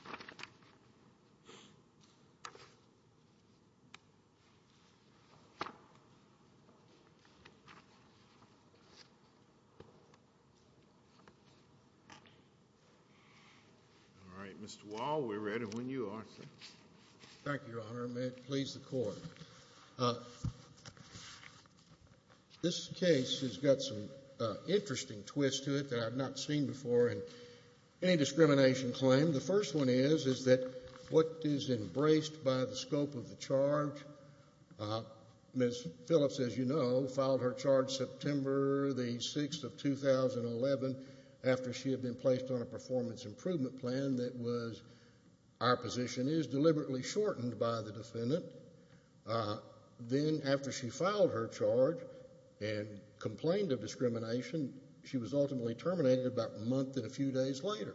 all right, Mr. Wall, we're ready when you are, sir. Thank you, Your Honor. May it please the Court. This case has got some interesting twists to it that I've not seen before in any discrimination claim. The first one is, is that what is embraced by the scope of the charge, Ms. Phillips, as you know, filed her charge September the 6th of 2011 after she had been placed on a performance improvement plan that was, our position is, deliberately shortened by the defendant. Then after she filed her charge and complained of discrimination, she was ultimately terminated about a month and a few days later,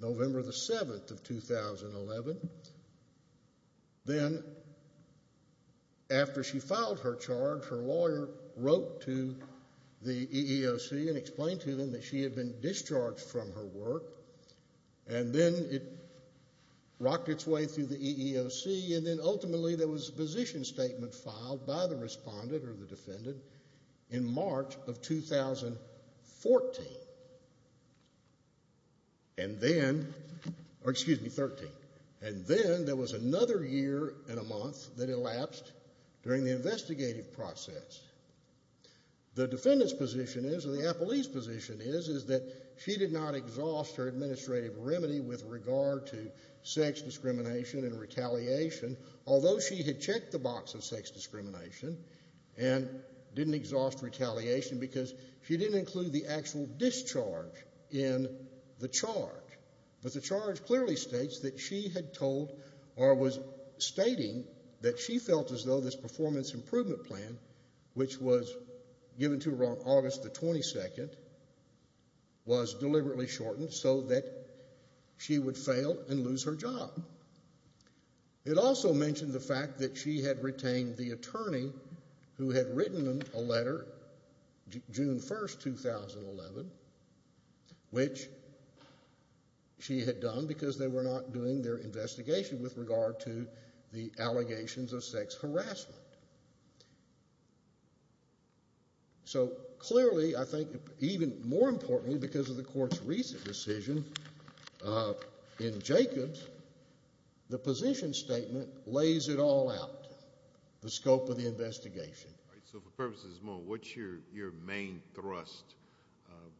November the 7th of 2011. Then after she filed her charge, her lawyer wrote to the EEOC and explained to them that she had been discharged from her work, and then it rocked its way through the EEOC, and then ultimately there was a position statement filed by the respondent or the defendant in March of 2014. And then, or excuse me, 13. And then there was another year and a month that elapsed during the investigative process. The defendant's position is, or the appellee's position is, is that she did not exhaust her administrative remedy with regard to sex discrimination and retaliation, although she had checked the box of sex discrimination, and didn't exhaust retaliation because she didn't include the actual discharge in the charge. But the charge clearly states that she had told, or was stating, that she felt as though this performance improvement plan, which was given to her on August the 22nd, was deliberately shortened so that she would fail and lose her job. It also mentioned the attorney who had written them a letter June 1st, 2011, which she had done because they were not doing their investigation with regard to the allegations of sex harassment. So clearly, I think even more importantly because of the Court's recent decision in Jacobs, the position statement lays it all out, the scope of the investigation. All right. So for purposes of this moment, what's your main thrust?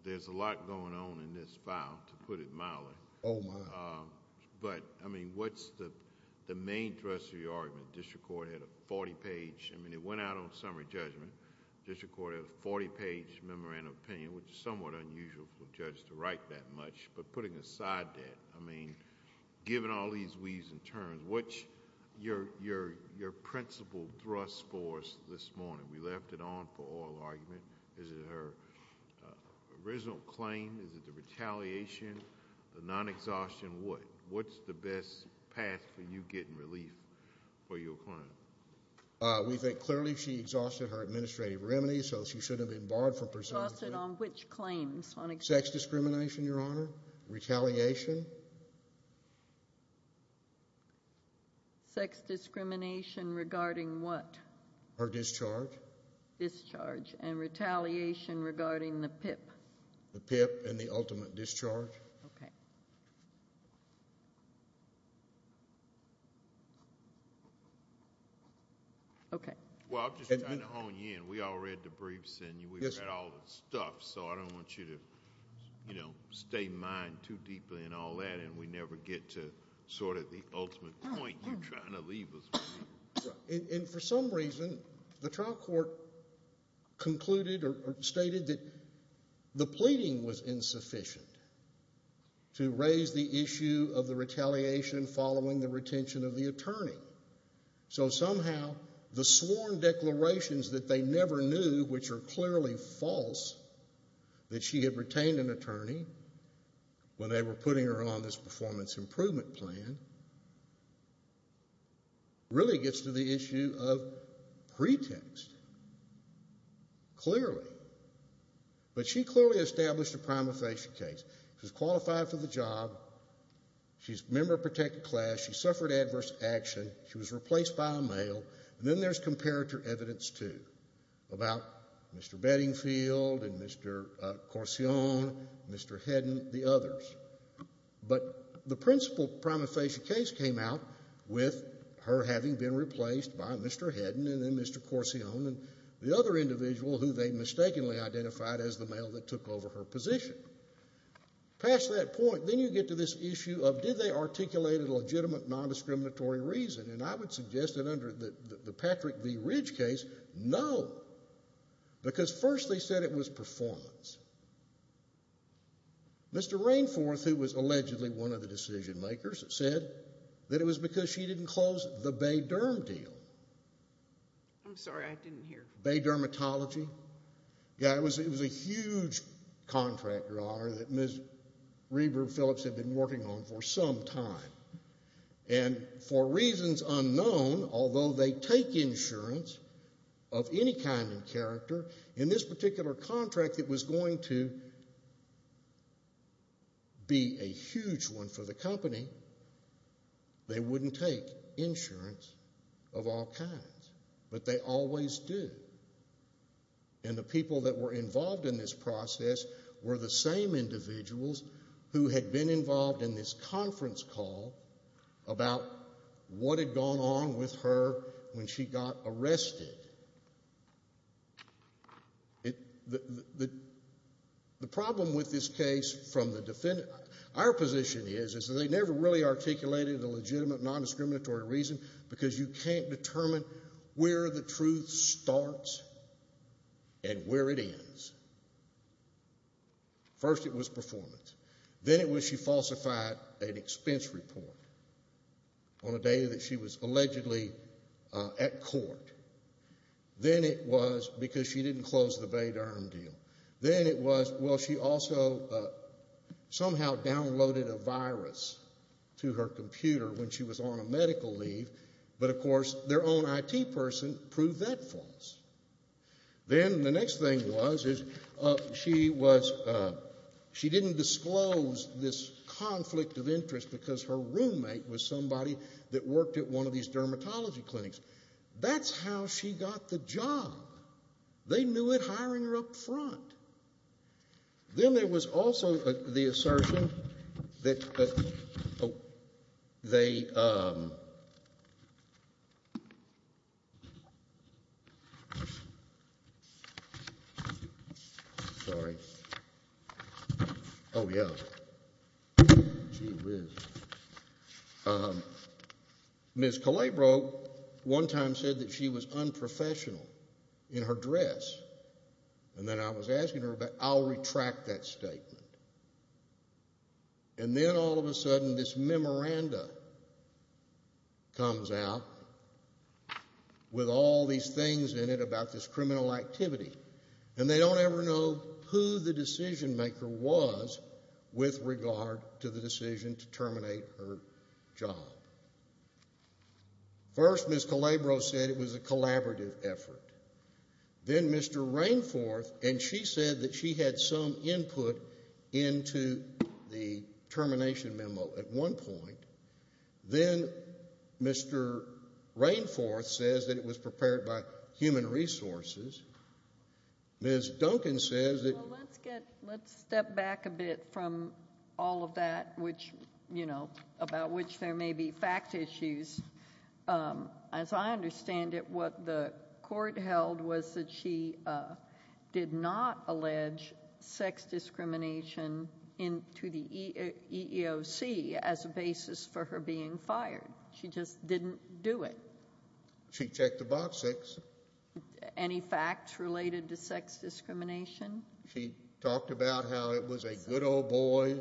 There's a lot going on in this file, to put it mildly. Oh, my. But, I mean, what's the main thrust of your argument? District Court had a 40-page... I mean, it went out on summary judgment. District Court had a 40-page memorandum of opinion, which is somewhat unusual for a judge to write that much. But putting aside that, I mean, given all these weaves and turns, what's your principal thrust for us this morning? We left it on for oral argument. Is it her original claim? Is it the retaliation, the non-exhaustion? What's the best path for you to get relief for your client? We think clearly she exhausted her administrative remedies, so she should have been barred from pursuing... Exhausted on which claims? Sex discrimination, Your Honor. Retaliation. Sex discrimination regarding what? Her discharge. Discharge. And retaliation regarding the PIP? The PIP and the ultimate discharge. Okay. Okay. Well, I'm just trying to hone you in. We all read the briefs and we've read all the stuff, so I don't want you to, you know, stay mined too deeply in all that and we never get to sort of the ultimate point you're trying to leave us with. And for some reason, the trial court concluded or stated that the pleading was insufficient to raise the issue of the retaliation following the retention of the attorney. So somehow, the sworn declarations that they never knew, which are clearly false, that she had retained an attorney when they were putting her on this performance improvement plan, really gets to the issue of pretext. Clearly. But she clearly established a prima facie case. She's qualified for the job. She's a member of a protected class. She suffered adverse action. She was replaced by a male. And then there's comparator evidence, too, about Mr. Beddingfield and Mr. Corcion, Mr. Hedden, the others. But the principal prima facie case came out with her having been replaced by Mr. Hedden and then Mr. Corcion and the other individual who they mistakenly identified as the male that took over her position. Past that point, then you get to this issue of did they articulate a legitimate, non-discriminatory reason? And I would suggest that under the Patrick V. Ridge case, no. Because first they said it was performance. Mr. Rainforth, who was allegedly one of the decision makers, said that it was because she didn't close the Bay Derm deal. I'm sorry, I didn't hear. Bay Dermatology. Yeah, it was a huge contract, Your Honor, that Ms. Reber-Phillips had been working on for some time. And for reasons unknown, although they take insurance of any kind and character, in this particular contract that was going to be a huge one for the company, they wouldn't take insurance of all kinds. But they always do. And the people that were involved in this process were the same individuals who had been involved in this conference call about what had gone on with her when she got arrested. The problem with this case from the defendant, our position is, is that they never really articulated a legitimate, non-discriminatory reason because you can't determine where the truth starts and where it ends. First it was performance. Then it was she falsified an expense report on a day that she was allegedly at court. Then it was because she didn't close the Bay Derm deal. Then it was, well, she also somehow downloaded a virus to her computer when she was on a medical leave. But, of course, their own IT person proved that false. Then the next thing was, is she was, she didn't disclose this conflict of interest because her roommate was somebody that worked at one of these dermatology clinics. That's how she got the job. They knew it hiring her up front. Then there was also the assertion that they, sorry, oh yeah, gee whiz. Ms. Calabro one time said that she was unprofessional in her dress. And then I was asking her about, I'll retract that statement. And then all of a sudden this memoranda comes out with all these things in it about this criminal activity. And they don't ever know who the decision maker was with regard to the decision to terminate her job. First Ms. Calabro said it was a collaborative effort. Then Mr. Rainforth, and she said that she had some input into the termination memo at one point. Then Mr. Rainforth says that it was prepared by human resources. Ms. Duncan says that Well, let's get, let's step back a bit from all of that, which, you know, about which there may be fact issues. As I understand it, what the court held was that she did not allege sex discrimination into the EEOC as a basis for her being fired. She just didn't do it. She checked the box six. Any facts related to sex discrimination? She talked about how it was a good old boy. I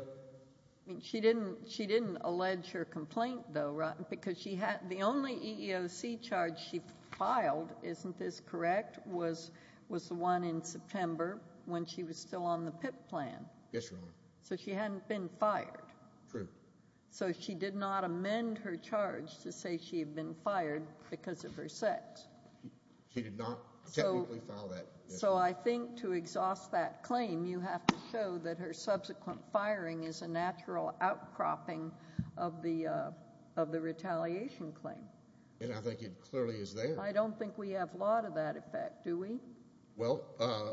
mean, she didn't, she didn't allege her complaint though, right? Because she had, the only EEOC charge she filed, isn't this correct, was the one in September when she was still on the PIP plan. Yes, Your Honor. So she hadn't been fired. True. So she did not amend her charge to say she had been fired because of her sex. She did not technically file that. So I think to exhaust that claim, you have to show that her subsequent firing is a natural outcropping of the, of the retaliation claim. And I think it clearly is there. I don't think we have a lot of that effect, do we? Well, uh,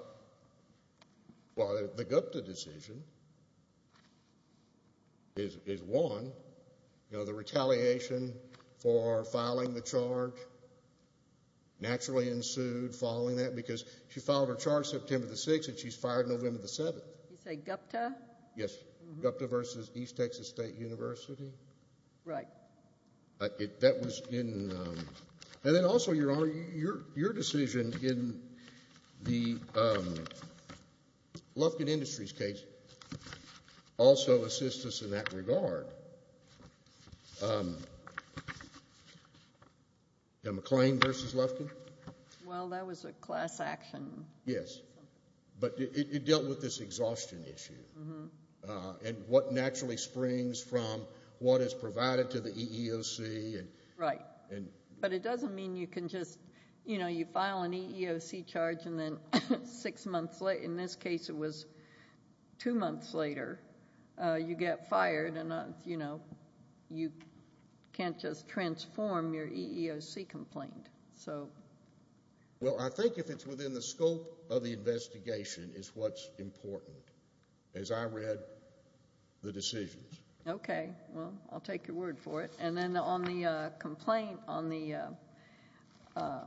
well, the Gupta decision is, is one. You know, the retaliation for filing the charge naturally ensued following that because she filed her charge September the 6th and she's fired November the 7th. You say Gupta? Yes. Gupta v. East Texas State University? Right. That was in, um... And then also, Your Honor, your decision in the, um, Lufkin Industries case also assists us in that regard. Um... McClain v. Lufkin? Well, that was a class action. Yes. But it dealt with this exhaustion issue. Uh, and what naturally springs from what is provided to the EEOC and... Right. But it doesn't mean you can just, you know, you file an EEOC charge and then six months later, in this case, it was two months later, you get fired and, you know, you can't just transform your EEOC complaint. So... Well, I think if it's within the scope of the investigation is what's important. As I read the decisions. Okay. Well, I'll take your word for it. And then on the, uh, complaint on the, uh, uh,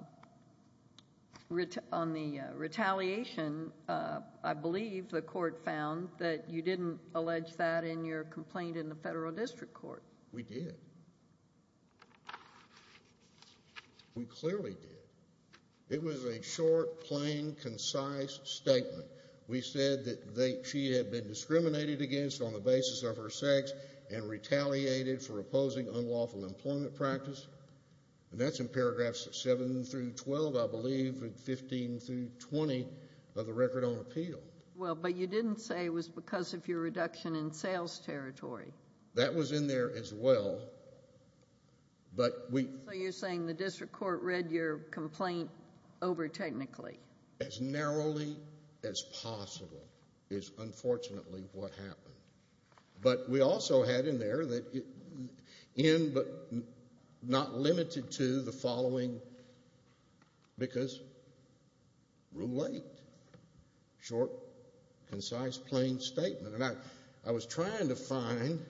on the, uh, retaliation, uh, I believe the court found that you didn't allege that in your complaint in the Federal District Court. We did. We clearly did. It was a short, plain, concise statement. We said that they, she had been discriminated against on the basis of her sex and retaliated for opposing unlawful employment practice. And that's in paragraphs 7 through 12, I believe, and 15 through 20 of the record on appeal. Well, but you didn't say it was because of your reduction in sales territory. That was in there as well. But we... You didn't complain overtechnically. As narrowly as possible is unfortunately what happened. But we also had in there that it... In, but not limited to, the following... Because... Rule 8. Short, concise, plain statement. And I was trying to find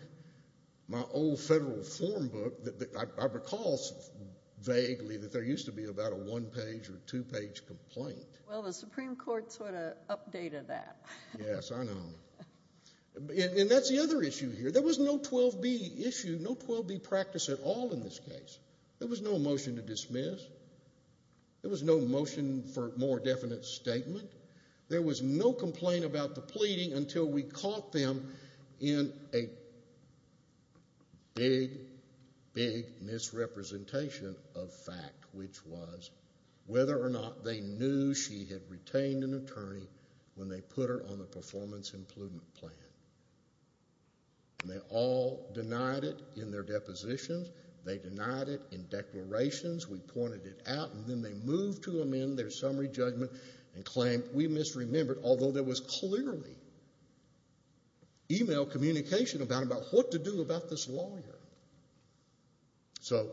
my old federal form book that I recall vaguely that there used to be about a one-page or two-page complaint. Well, the Supreme Court sort of updated that. Yes, I know. And that's the other issue here. There was no 12B issue, no 12B practice at all in this case. There was no motion to dismiss. There was no motion for more definite statement. There was no complaint about the pleading until we caught them in a... of fact, which was whether or not they knew she had retained an attorney when they put her on the performance improvement plan. And they all denied it in their depositions. They denied it in declarations. We pointed it out. And then they moved to amend their summary judgment and claimed we misremembered, although there was clearly email communication about what to do about this lawyer. So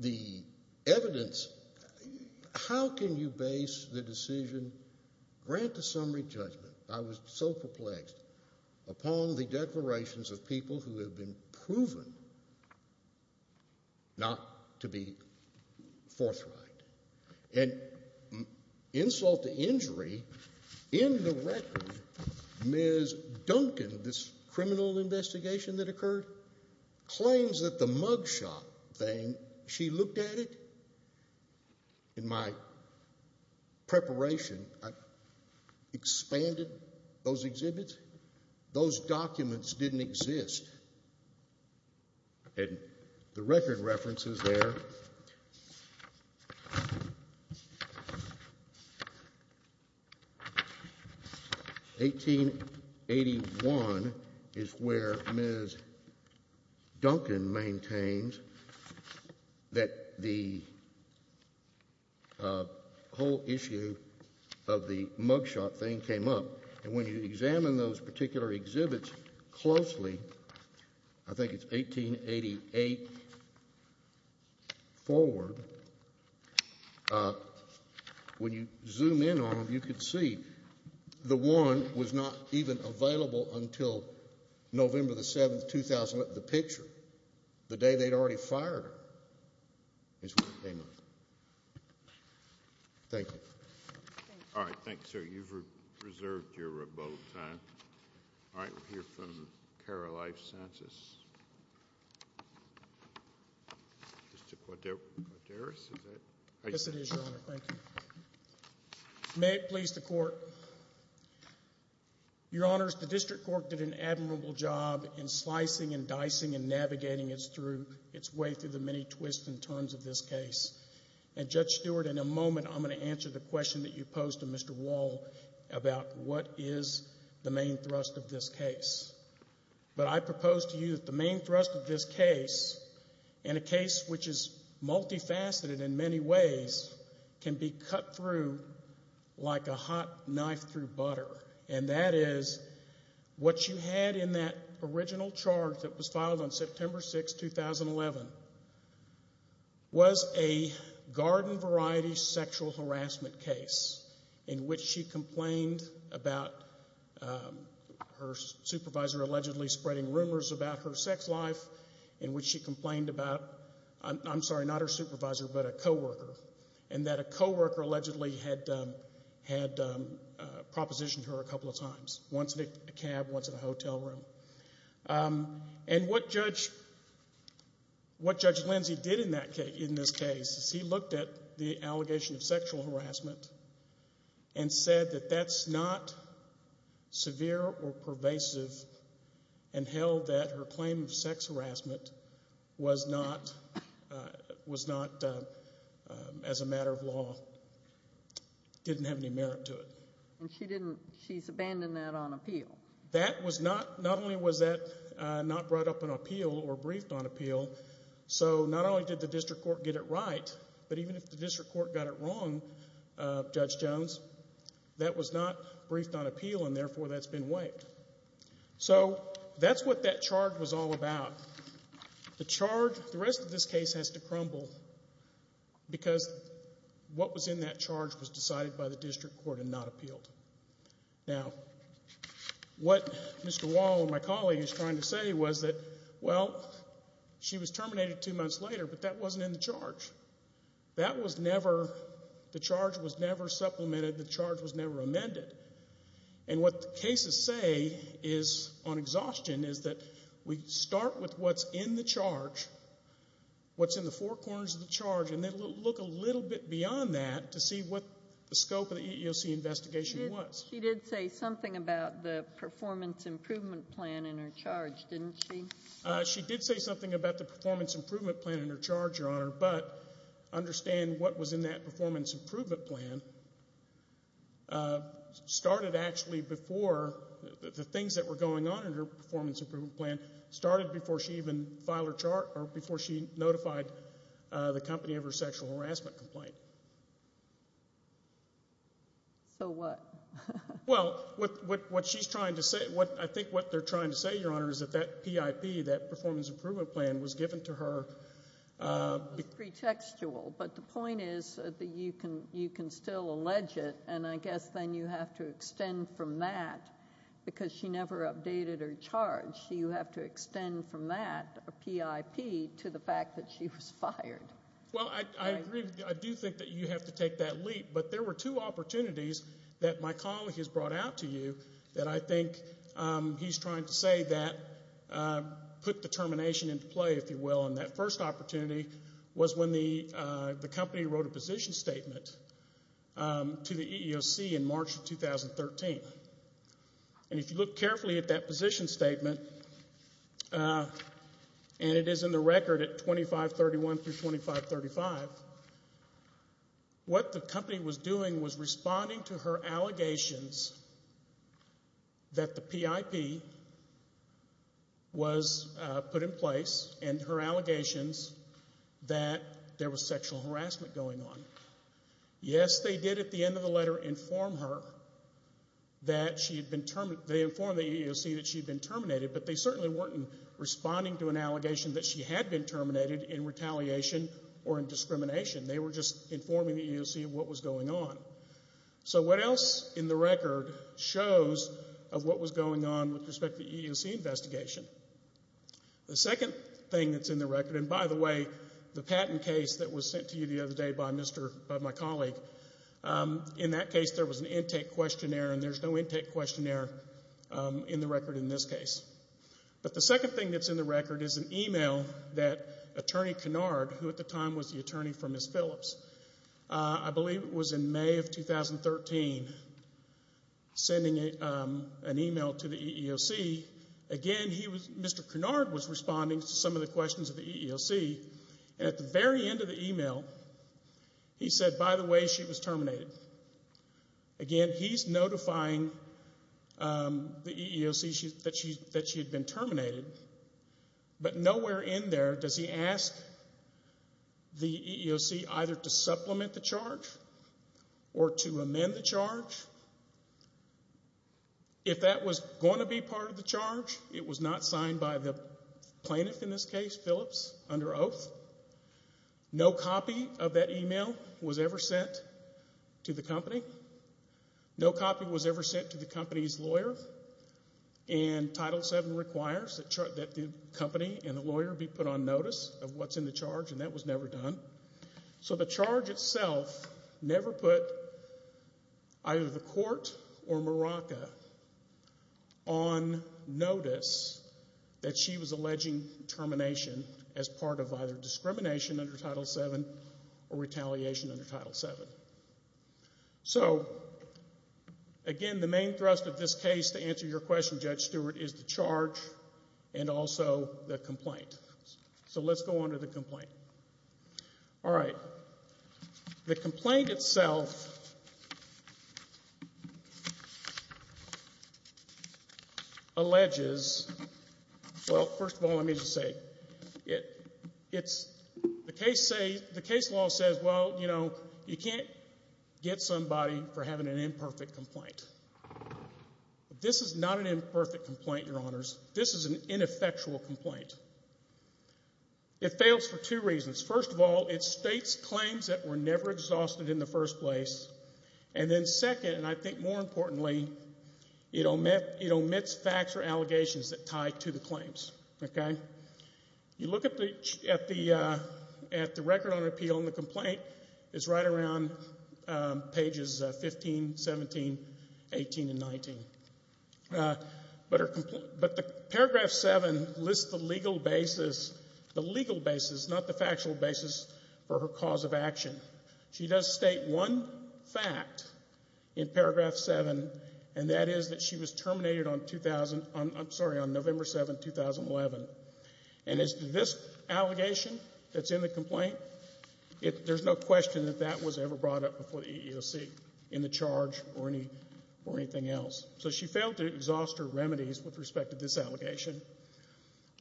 the evidence... How can you base the decision, grant a summary judgment, I was so perplexed, upon the declarations of people who have been proven not to be forthright and insult to injury, indirectly, Ms. Duncan, in this criminal investigation that occurred, claims that the mugshot thing, she looked at it. In my preparation, I expanded those exhibits. Those documents didn't exist. And the record references there... 1881 is where Ms. Duncan maintains that the whole issue of the mugshot thing came up. And when you examine those particular exhibits closely, I think it's 1888 forward, when you zoom in on them, you can see the one was not even available until November 7, 2008, the picture. The day they'd already fired her is when it came up. Thank you. All right, thanks, sir. You've reserved your vote time. All right, we'll hear from Cara Life-Santis. Mr. Quaddaris, is that... Yes, it is, Your Honor, thank you. May it please the court. Your Honors, the district court did an admirable job in slicing and dicing and navigating its way through the many twists and turns of this case. And, Judge Stewart, in a moment, I'm going to answer the question that you posed to Mr. Wall about what is the main thrust of this case. But I propose to you that, the main thrust of this case, in a case which is multifaceted in many ways, can be cut through like a hot knife through butter. And that is, what you had in that original charge that was filed on September 6, 2011, was a garden-variety sexual harassment case in which she complained about her supervisor allegedly spreading rumors about her sex life, in which she complained about... I'm sorry, not her supervisor, but a co-worker, and that a co-worker allegedly had propositioned her a couple of times, once in a cab, once in a hotel room. And what Judge Lindsey did in this case is he looked at the allegation of sexual harassment and said that that's not severe or pervasive and held that her claim of sex harassment was not, as a matter of law, didn't have any merit to it. And she's abandoned that on appeal. That was not... Not only was that not brought up on appeal or briefed on appeal, so not only did the district court get it right, but even if the district court got it wrong, Judge Jones, that was not briefed on appeal, and therefore that's been waived. So that's what that charge was all about. The charge... The rest of this case has to crumble because what was in that charge was decided by the district court and not appealed. Now, what Mr. Wall and my colleague is trying to say was that, well, she was terminated two months later, but that wasn't in the charge. That was never... The charge was never supplemented. The charge was never amended. And what the cases say is, on exhaustion, is that we start with what's in the charge, what's in the four corners of the charge, and then look a little bit beyond that to see what the scope of the EEOC investigation was. She did say something about the performance improvement plan in her charge, didn't she? She did say something about the performance improvement plan in her charge, Your Honor, but understand what was in that performance improvement plan started actually before... The things that were going on in her performance improvement plan started before she even filed her chart or before she notified the company of her sexual harassment complaint. So what? Well, what she's trying to say... I think what they're trying to say, Your Honor, is that that PIP, that performance improvement plan, was given to her... It's pretextual, but the point is that you can still allege it, and I guess then you have to extend from that, because she never updated her charge. You have to extend from that, a PIP, to the fact that she was fired. Well, I agree. I do think that you have to take that leap, but there were two opportunities that my colleague has brought out to you that I think he's trying to say that put the termination into play, if you will. And that first opportunity was when the company wrote a position statement to the EEOC in March of 2013. And if you look carefully at that position statement, and it is in the record at 2531 through 2535, what the company was doing was responding to her allegations that the PIP was put in place and her allegations that there was sexual harassment going on. Yes, they did at the end of the letter inform her that she had been term... They informed the EEOC that she had been terminated, but they certainly weren't responding to an allegation that she had been terminated in retaliation or in discrimination. They were just informing the EEOC of what was going on. So what else in the record shows of what was going on with respect to the EEOC investigation? The second thing that's in the record, and by the way, the patent case that was sent to you the other day by my colleague, in that case, there was an intake questionnaire, and there's no intake questionnaire in the record in this case. But the second thing that's in the record is an email that Attorney Kennard, who at the time was the attorney for Ms. Phillips, I believe it was in May of 2013, sending an email to the EEOC. Again, he was... Mr. Kennard was responding to some of the questions of the EEOC, and at the very end of the email, he said, by the way, she was terminated. Again, he's notifying the EEOC that she had been terminated, but nowhere in there does he ask the EEOC either to supplement the charge or to amend the charge. If that was going to be part of the charge, it was not signed by the plaintiff in this case, Phillips, under oath. No copy of that email was ever sent to the company. No copy was ever sent to the company's lawyer, and Title VII requires that the company and the lawyer be put on notice of what's in the charge, and that was never done. So the charge itself never put either the court or Morocco on notice that she was alleging termination as part of either discrimination under Title VII or retaliation under Title VII. So, again, the main thrust of this case, to answer your question, Judge Stewart, is the charge and also the complaint. So let's go on to the complaint. All right. The complaint itself... ...alleges... Well, first of all, let me just say, it's... The case law says, well, you know, you can't get somebody for having an imperfect complaint. This is not an imperfect complaint, Your Honors. This is an ineffectual complaint. It fails for two reasons. First of all, it states claims that were never exhausted in the first place, and then second, and I think more importantly, it omits facts or allegations that tie to the claims, OK? You look at the record on appeal in the complaint, it's right around pages 15, 17, 18 and 19. But the paragraph 7 lists the legal basis, the legal basis, not the factual basis, for her cause of action. She does state one fact in paragraph 7, and that is that she was terminated on 2000... I'm sorry, on November 7, 2011. And as to this allegation that's in the complaint, there's no question that that was ever brought up before the EEOC in the charge or anything else. So she failed to exhaust her remedies with respect to this allegation.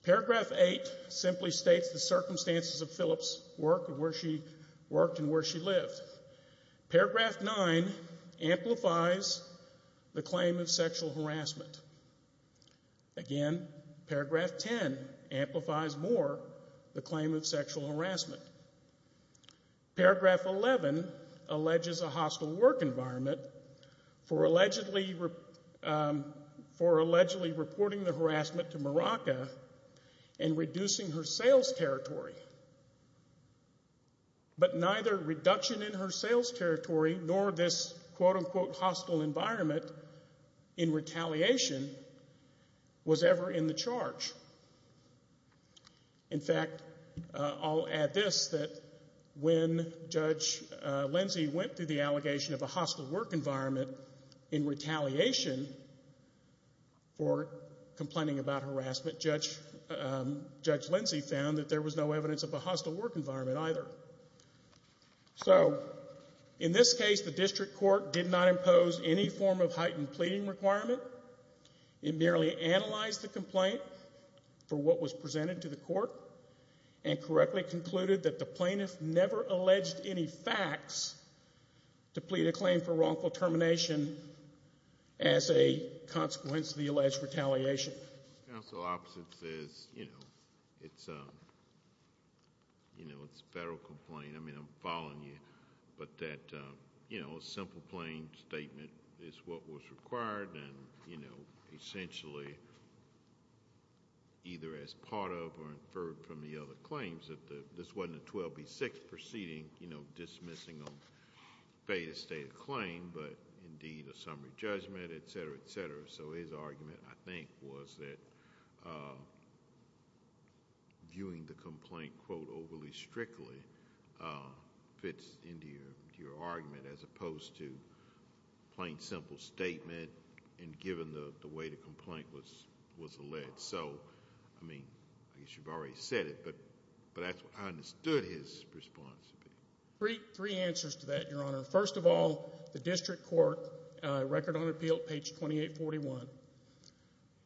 Paragraph 8 simply states the circumstances of Phillip's work and where she worked and where she lived. Paragraph 9 amplifies the claim of sexual harassment. Again, paragraph 10 amplifies more the claim of sexual harassment. Paragraph 11 alleges a hostile work environment for allegedly reporting the harassment to Morocco and reducing her sales territory. But neither reduction in her sales territory nor this quote-unquote hostile environment in retaliation was ever in the charge. In fact, I'll add this, that when Judge Lindsey went through the allegation of a hostile work environment in retaliation for complaining about harassment, Judge Lindsey found that there was no evidence of a hostile work environment either. So in this case, the district court did not impose any form of heightened pleading requirement. It merely analyzed the complaint for what was presented to the court and correctly concluded that the plaintiff never alleged any facts to plead a claim for wrongful termination as a consequence of the alleged retaliation. The counsel opposite says, you know, it's a, you know, it's a federal complaint. I mean, I'm following you, but that, you know, a simple plain statement is what was required and, you know, essentially either as part of or inferred from the other claims that this wasn't a 12B6 proceeding, you know, dismissing a stated claim, but indeed a summary judgment, et cetera, et cetera. So his argument, I think, was that viewing the complaint, quote, overly strictly fits into your argument as opposed to plain simple statement and given the way the complaint was alleged. So, I mean, I guess you've already said it, but I understood his response. Three answers to that, Your Honor. First of all, the district court, record on appeal, page 2841,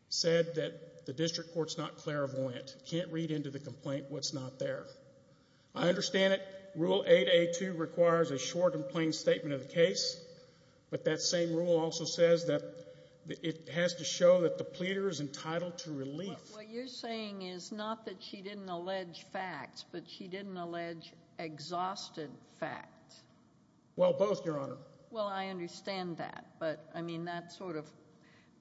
said that the district court's not clairvoyant, can't read into the complaint what's not there. I understand it. Rule 8A2 requires a short and plain statement of the case, but that same rule also says that it has to show that the pleader is entitled to relief. What you're saying is not that she didn't allege facts, but she didn't allege exhausted facts. Well, both, Your Honor. Well, I understand that, but, I mean, that sort of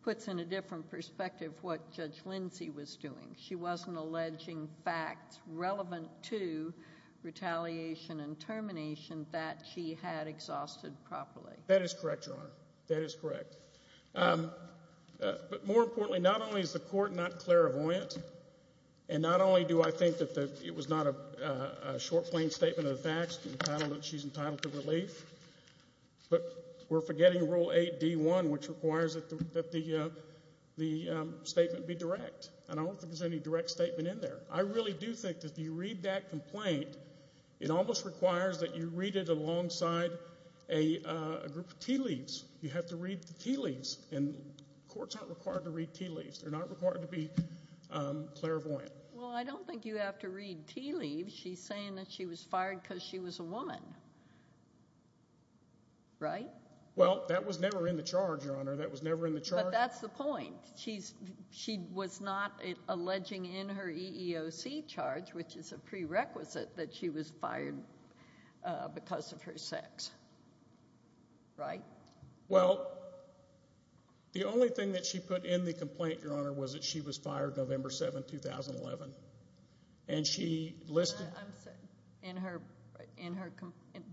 puts in a different perspective what Judge Lindsey was doing. She wasn't alleging facts relevant to retaliation and termination that she had exhausted properly. That is correct, Your Honor. That is correct. Um, but more importantly, not only is the court not clairvoyant and not only do I think that it was not a short, plain statement of the facts, that she's entitled to relief, but we're forgetting Rule 8D1, which requires that the statement be direct, and I don't think there's any direct statement in there. I really do think that if you read that complaint, it almost requires that you read it alongside a group of tea leaves. You have to read the tea leaves, and courts aren't required to read tea leaves. They're not required to be, um, clairvoyant. Well, I don't think you have to read tea leaves. She's saying that she was fired because she was a woman. Well, that was never in the charge, Your Honor. That was never in the charge. But that's the point. She was not alleging in her EEOC charge, which is a prerequisite, that she was fired, uh, because of her sex. Right? Well, the only thing that she put in the complaint, Your Honor, was that she was fired November 7, 2011. And she listed... I'm sorry. In her... In her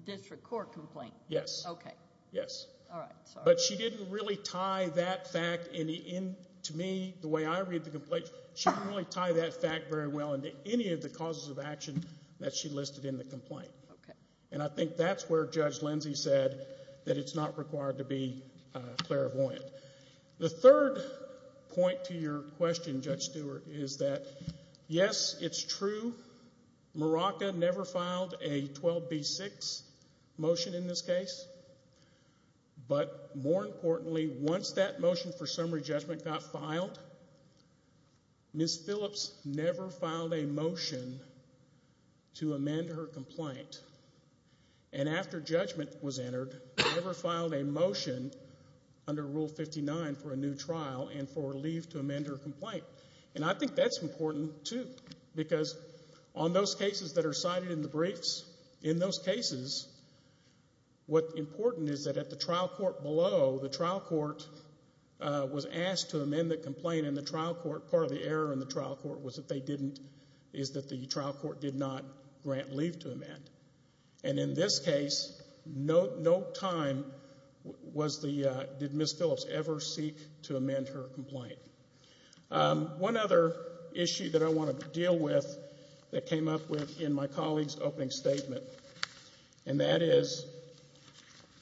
district court complaint. Yes. Okay. Yes. All right. Sorry. But she didn't really tie that fact in the end, to me, the way I read the complaint. She didn't really tie that fact very well into any of the causes of action that she listed in the complaint. Okay. And I think that's where Judge Lindsey said that it's not required to be, uh, clairvoyant. The third point to your question, Judge Stewart, is that yes, it's true. Maraca never filed a 12B6 motion in this case. But more importantly, once that motion for summary judgment got filed, Ms. Phillips never filed a motion to amend her complaint. And after judgment was entered, never filed a motion under Rule 59 for a new trial and for leave to amend her complaint. And I think that's important, too. Because on those cases that are cited in the briefs, in those cases, what's important is that at the trial court below, the trial court, uh, was asked to amend the complaint, and the trial court, part of the error in the trial court was that they didn't... And in this case, no time was the, uh, did Ms. Phillips ever seek to amend her complaint. Um, one other issue that I want to deal with that came up with in my colleague's opening statement, and that is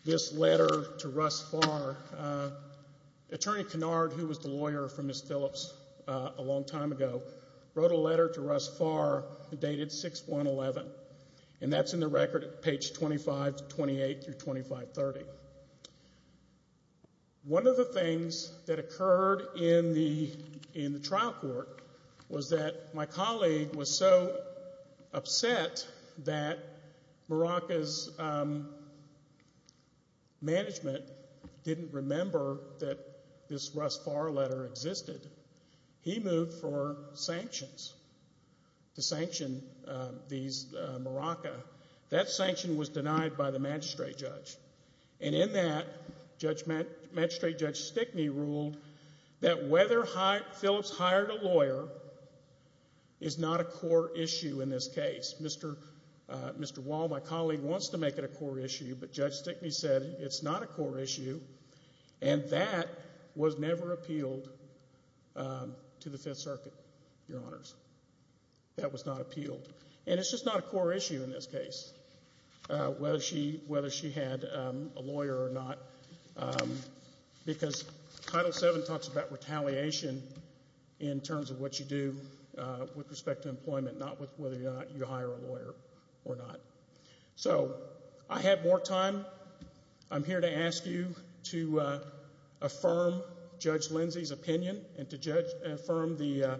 this letter to Russ Farr. Uh, Attorney Kennard, who was the lawyer for Ms. Phillips a long time ago, wrote a letter to Russ Farr dated 6-1-11. And that's in the record at page 25-28 through 25-30. One of the things that occurred in the, in the trial court was that my colleague was so upset that Morocco's, um, management didn't remember that this Russ Farr letter existed. He moved for sanction, um, these, uh, Morocco. That sanction was denied by the magistrate judge. And in that, magistrate Judge Stickney ruled that whether Phillips hired a lawyer is not a core issue in this case. Mr., uh, Mr. Wall, my colleague, wants to make it a core issue, but Judge Stickney said it's not a core issue, and that was never appealed, um, to the Fifth Circuit, Your Honors. That was not appealed. And it's just not a core issue in this case, uh, whether she, whether she had, um, a lawyer or not, um, because Title VII talks about retaliation in terms of what you do, uh, with respect to employment, not with whether or not you hire a lawyer or not. So, I have more time. I'm here to ask you to, uh, affirm Judge Lindsey's opinion and to judge, affirm the, uh,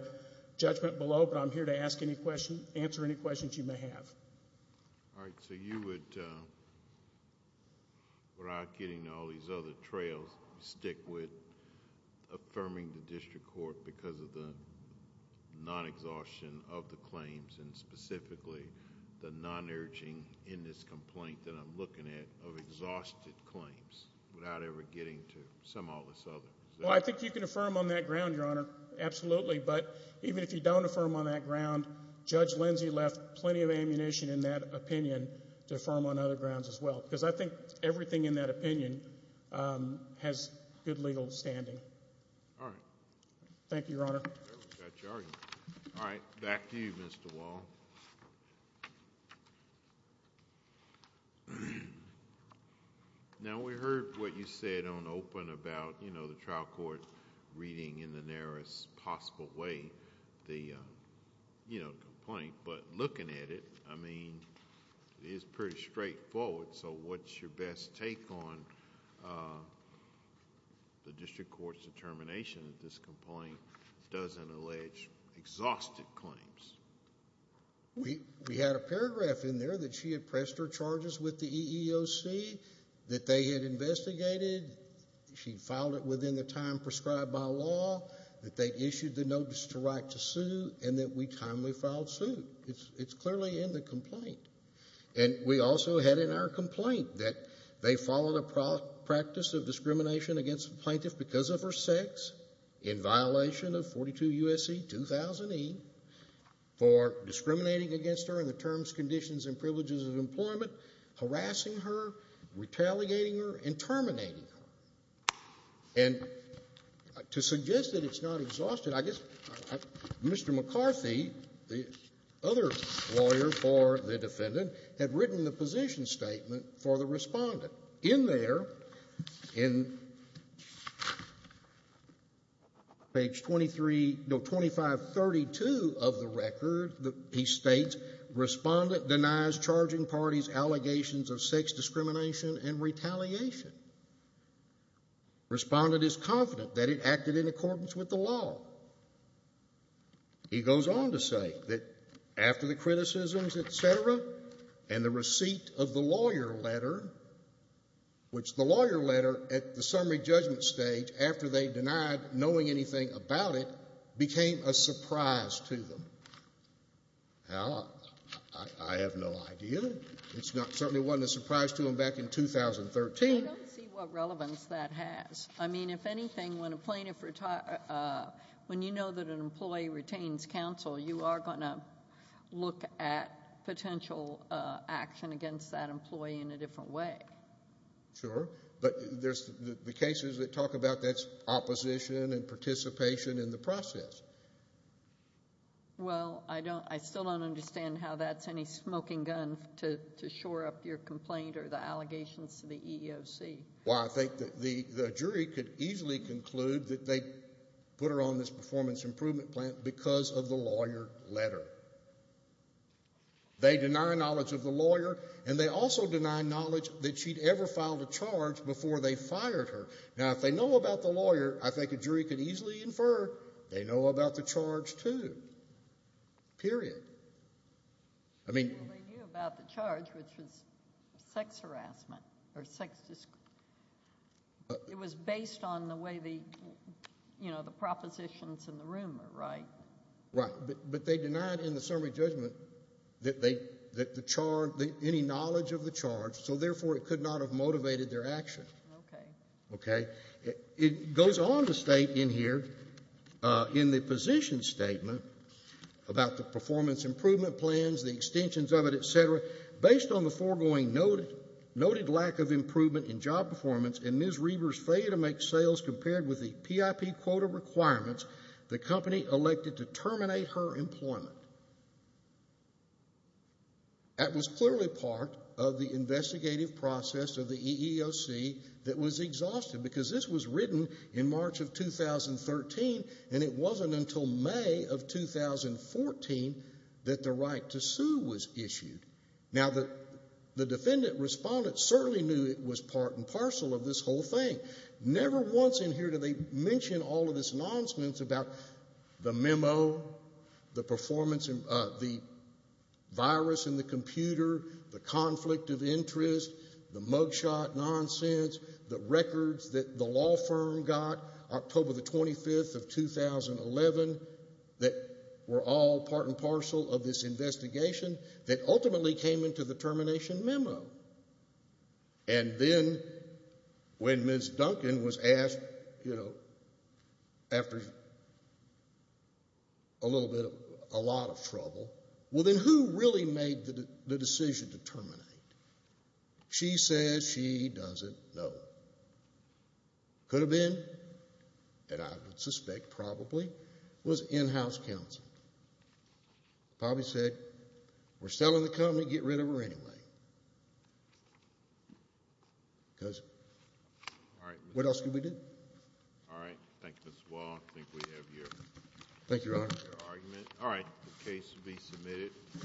judgment below, but I'm here to ask any question, answer any questions you may have. All right, so you would, uh, without getting into all these other trails, stick with affirming the district court because of the non-exhaustion of the claims, and specifically the non-urging in this complaint that I'm looking at of exhausted claims without ever getting to some or all of that ground, Your Honor. Absolutely, but even if you don't affirm on that ground, Judge Lindsey left plenty of ammunition in that opinion to affirm on other grounds as well because I think everything in that opinion, um, has good legal standing. All right. Thank you, Your Honor. All right, back to you, Mr. Wall. Now, we heard what you said on open about, you know, the trial court reading in the narrowest possible way the, uh, you know, complaint, but looking at it, I mean, it is pretty straightforward, so what's your best take on, uh, the district court's determination that this complaint doesn't allege exhausted claims? We had a paragraph in there that she had pressed her charges with the EEOC, that they had investigated, she filed it within the time prescribed by law, that they issued the notice to write to sue, and that we timely filed suit. It's clearly in the complaint. And we also had in our complaint that they followed a practice of discrimination against a plaintiff because of her sex in violation of 42 U.S.C. 2000E for discriminating against her in the terms, conditions, and privileges of employment, harassing her, retaliating her, and terminating her. And to suggest that it's not exhausted, I guess, Mr. McCarthy, the other lawyer for the defendant, had written the position statement for the respondent. In there, in page 23, no, 2532 of the record, he states respondent denies charging parties allegations of sex discrimination and retaliation. Respondent is confident that it acted in accordance with the law. He goes on to say that after the criticisms, etc., and the receipt of the lawyer letter, which the lawyer letter at the summary judgment stage, after they denied knowing anything about it, became a surprise to them. Now, I have no idea. It certainly wasn't a surprise to them back in 2013. I don't see what relevance that has. I mean, if anything, when a plaintiff when you know that an employee retains counsel, you are going to look at potential action against that employee in a different way. Sure, but there's the cases that talk about that's opposition and participation in the process. Well, I still don't understand how that's any smoking gun to shore up your complaint or the allegations to the EEOC. Well, I think that the jury could easily conclude that they put her on this performance improvement plan because of the lawyer letter. They deny knowledge of the lawyer and they also deny knowledge that she'd ever filed a charge before they fired her. Now, if they know about the lawyer, I think a jury could easily infer they know about the charge too. Period. I mean... They knew about the charge, which was sex harassment or sex... It was based on the way the you know, the propositions in the room were right. Right. But they denied in the summary judgment that they, that the charge any knowledge of the charge, so therefore it could not have motivated their action. Okay. Okay. It goes on to state in here in the position statement about the performance improvement plans, the extensions of it, etc., based on the foregoing noted lack of improvement in job performance and Ms. Reber's failure to make sales compared with the PIP quota requirements the company elected to terminate her employment. That was clearly part of the investigative process of the EEOC that was exhausted because this was written in March of 2013 and it wasn't until May of 2014 that the right to sue was issued. Now the defendant respondent certainly knew it was part and parcel of this whole thing. Never once in here do they mention all of this nonsense about the memo, the performance, the virus in the computer, the conflict of interest, the mugshot nonsense, the records that the law firm got October the 25th of 2011 that were all part and parcel of this investigation that ultimately came into the termination memo. And then when Ms. Duncan was asked after a little bit a lot of trouble, well then who really made the decision to terminate? She says she doesn't know. Could have been and I would suspect probably was in-house counsel. Probably said we're selling the company, get rid of her anyway. Because what else could we do? Alright, thank you Mr. Wall. I think we have your argument. Alright, the case will be submitted.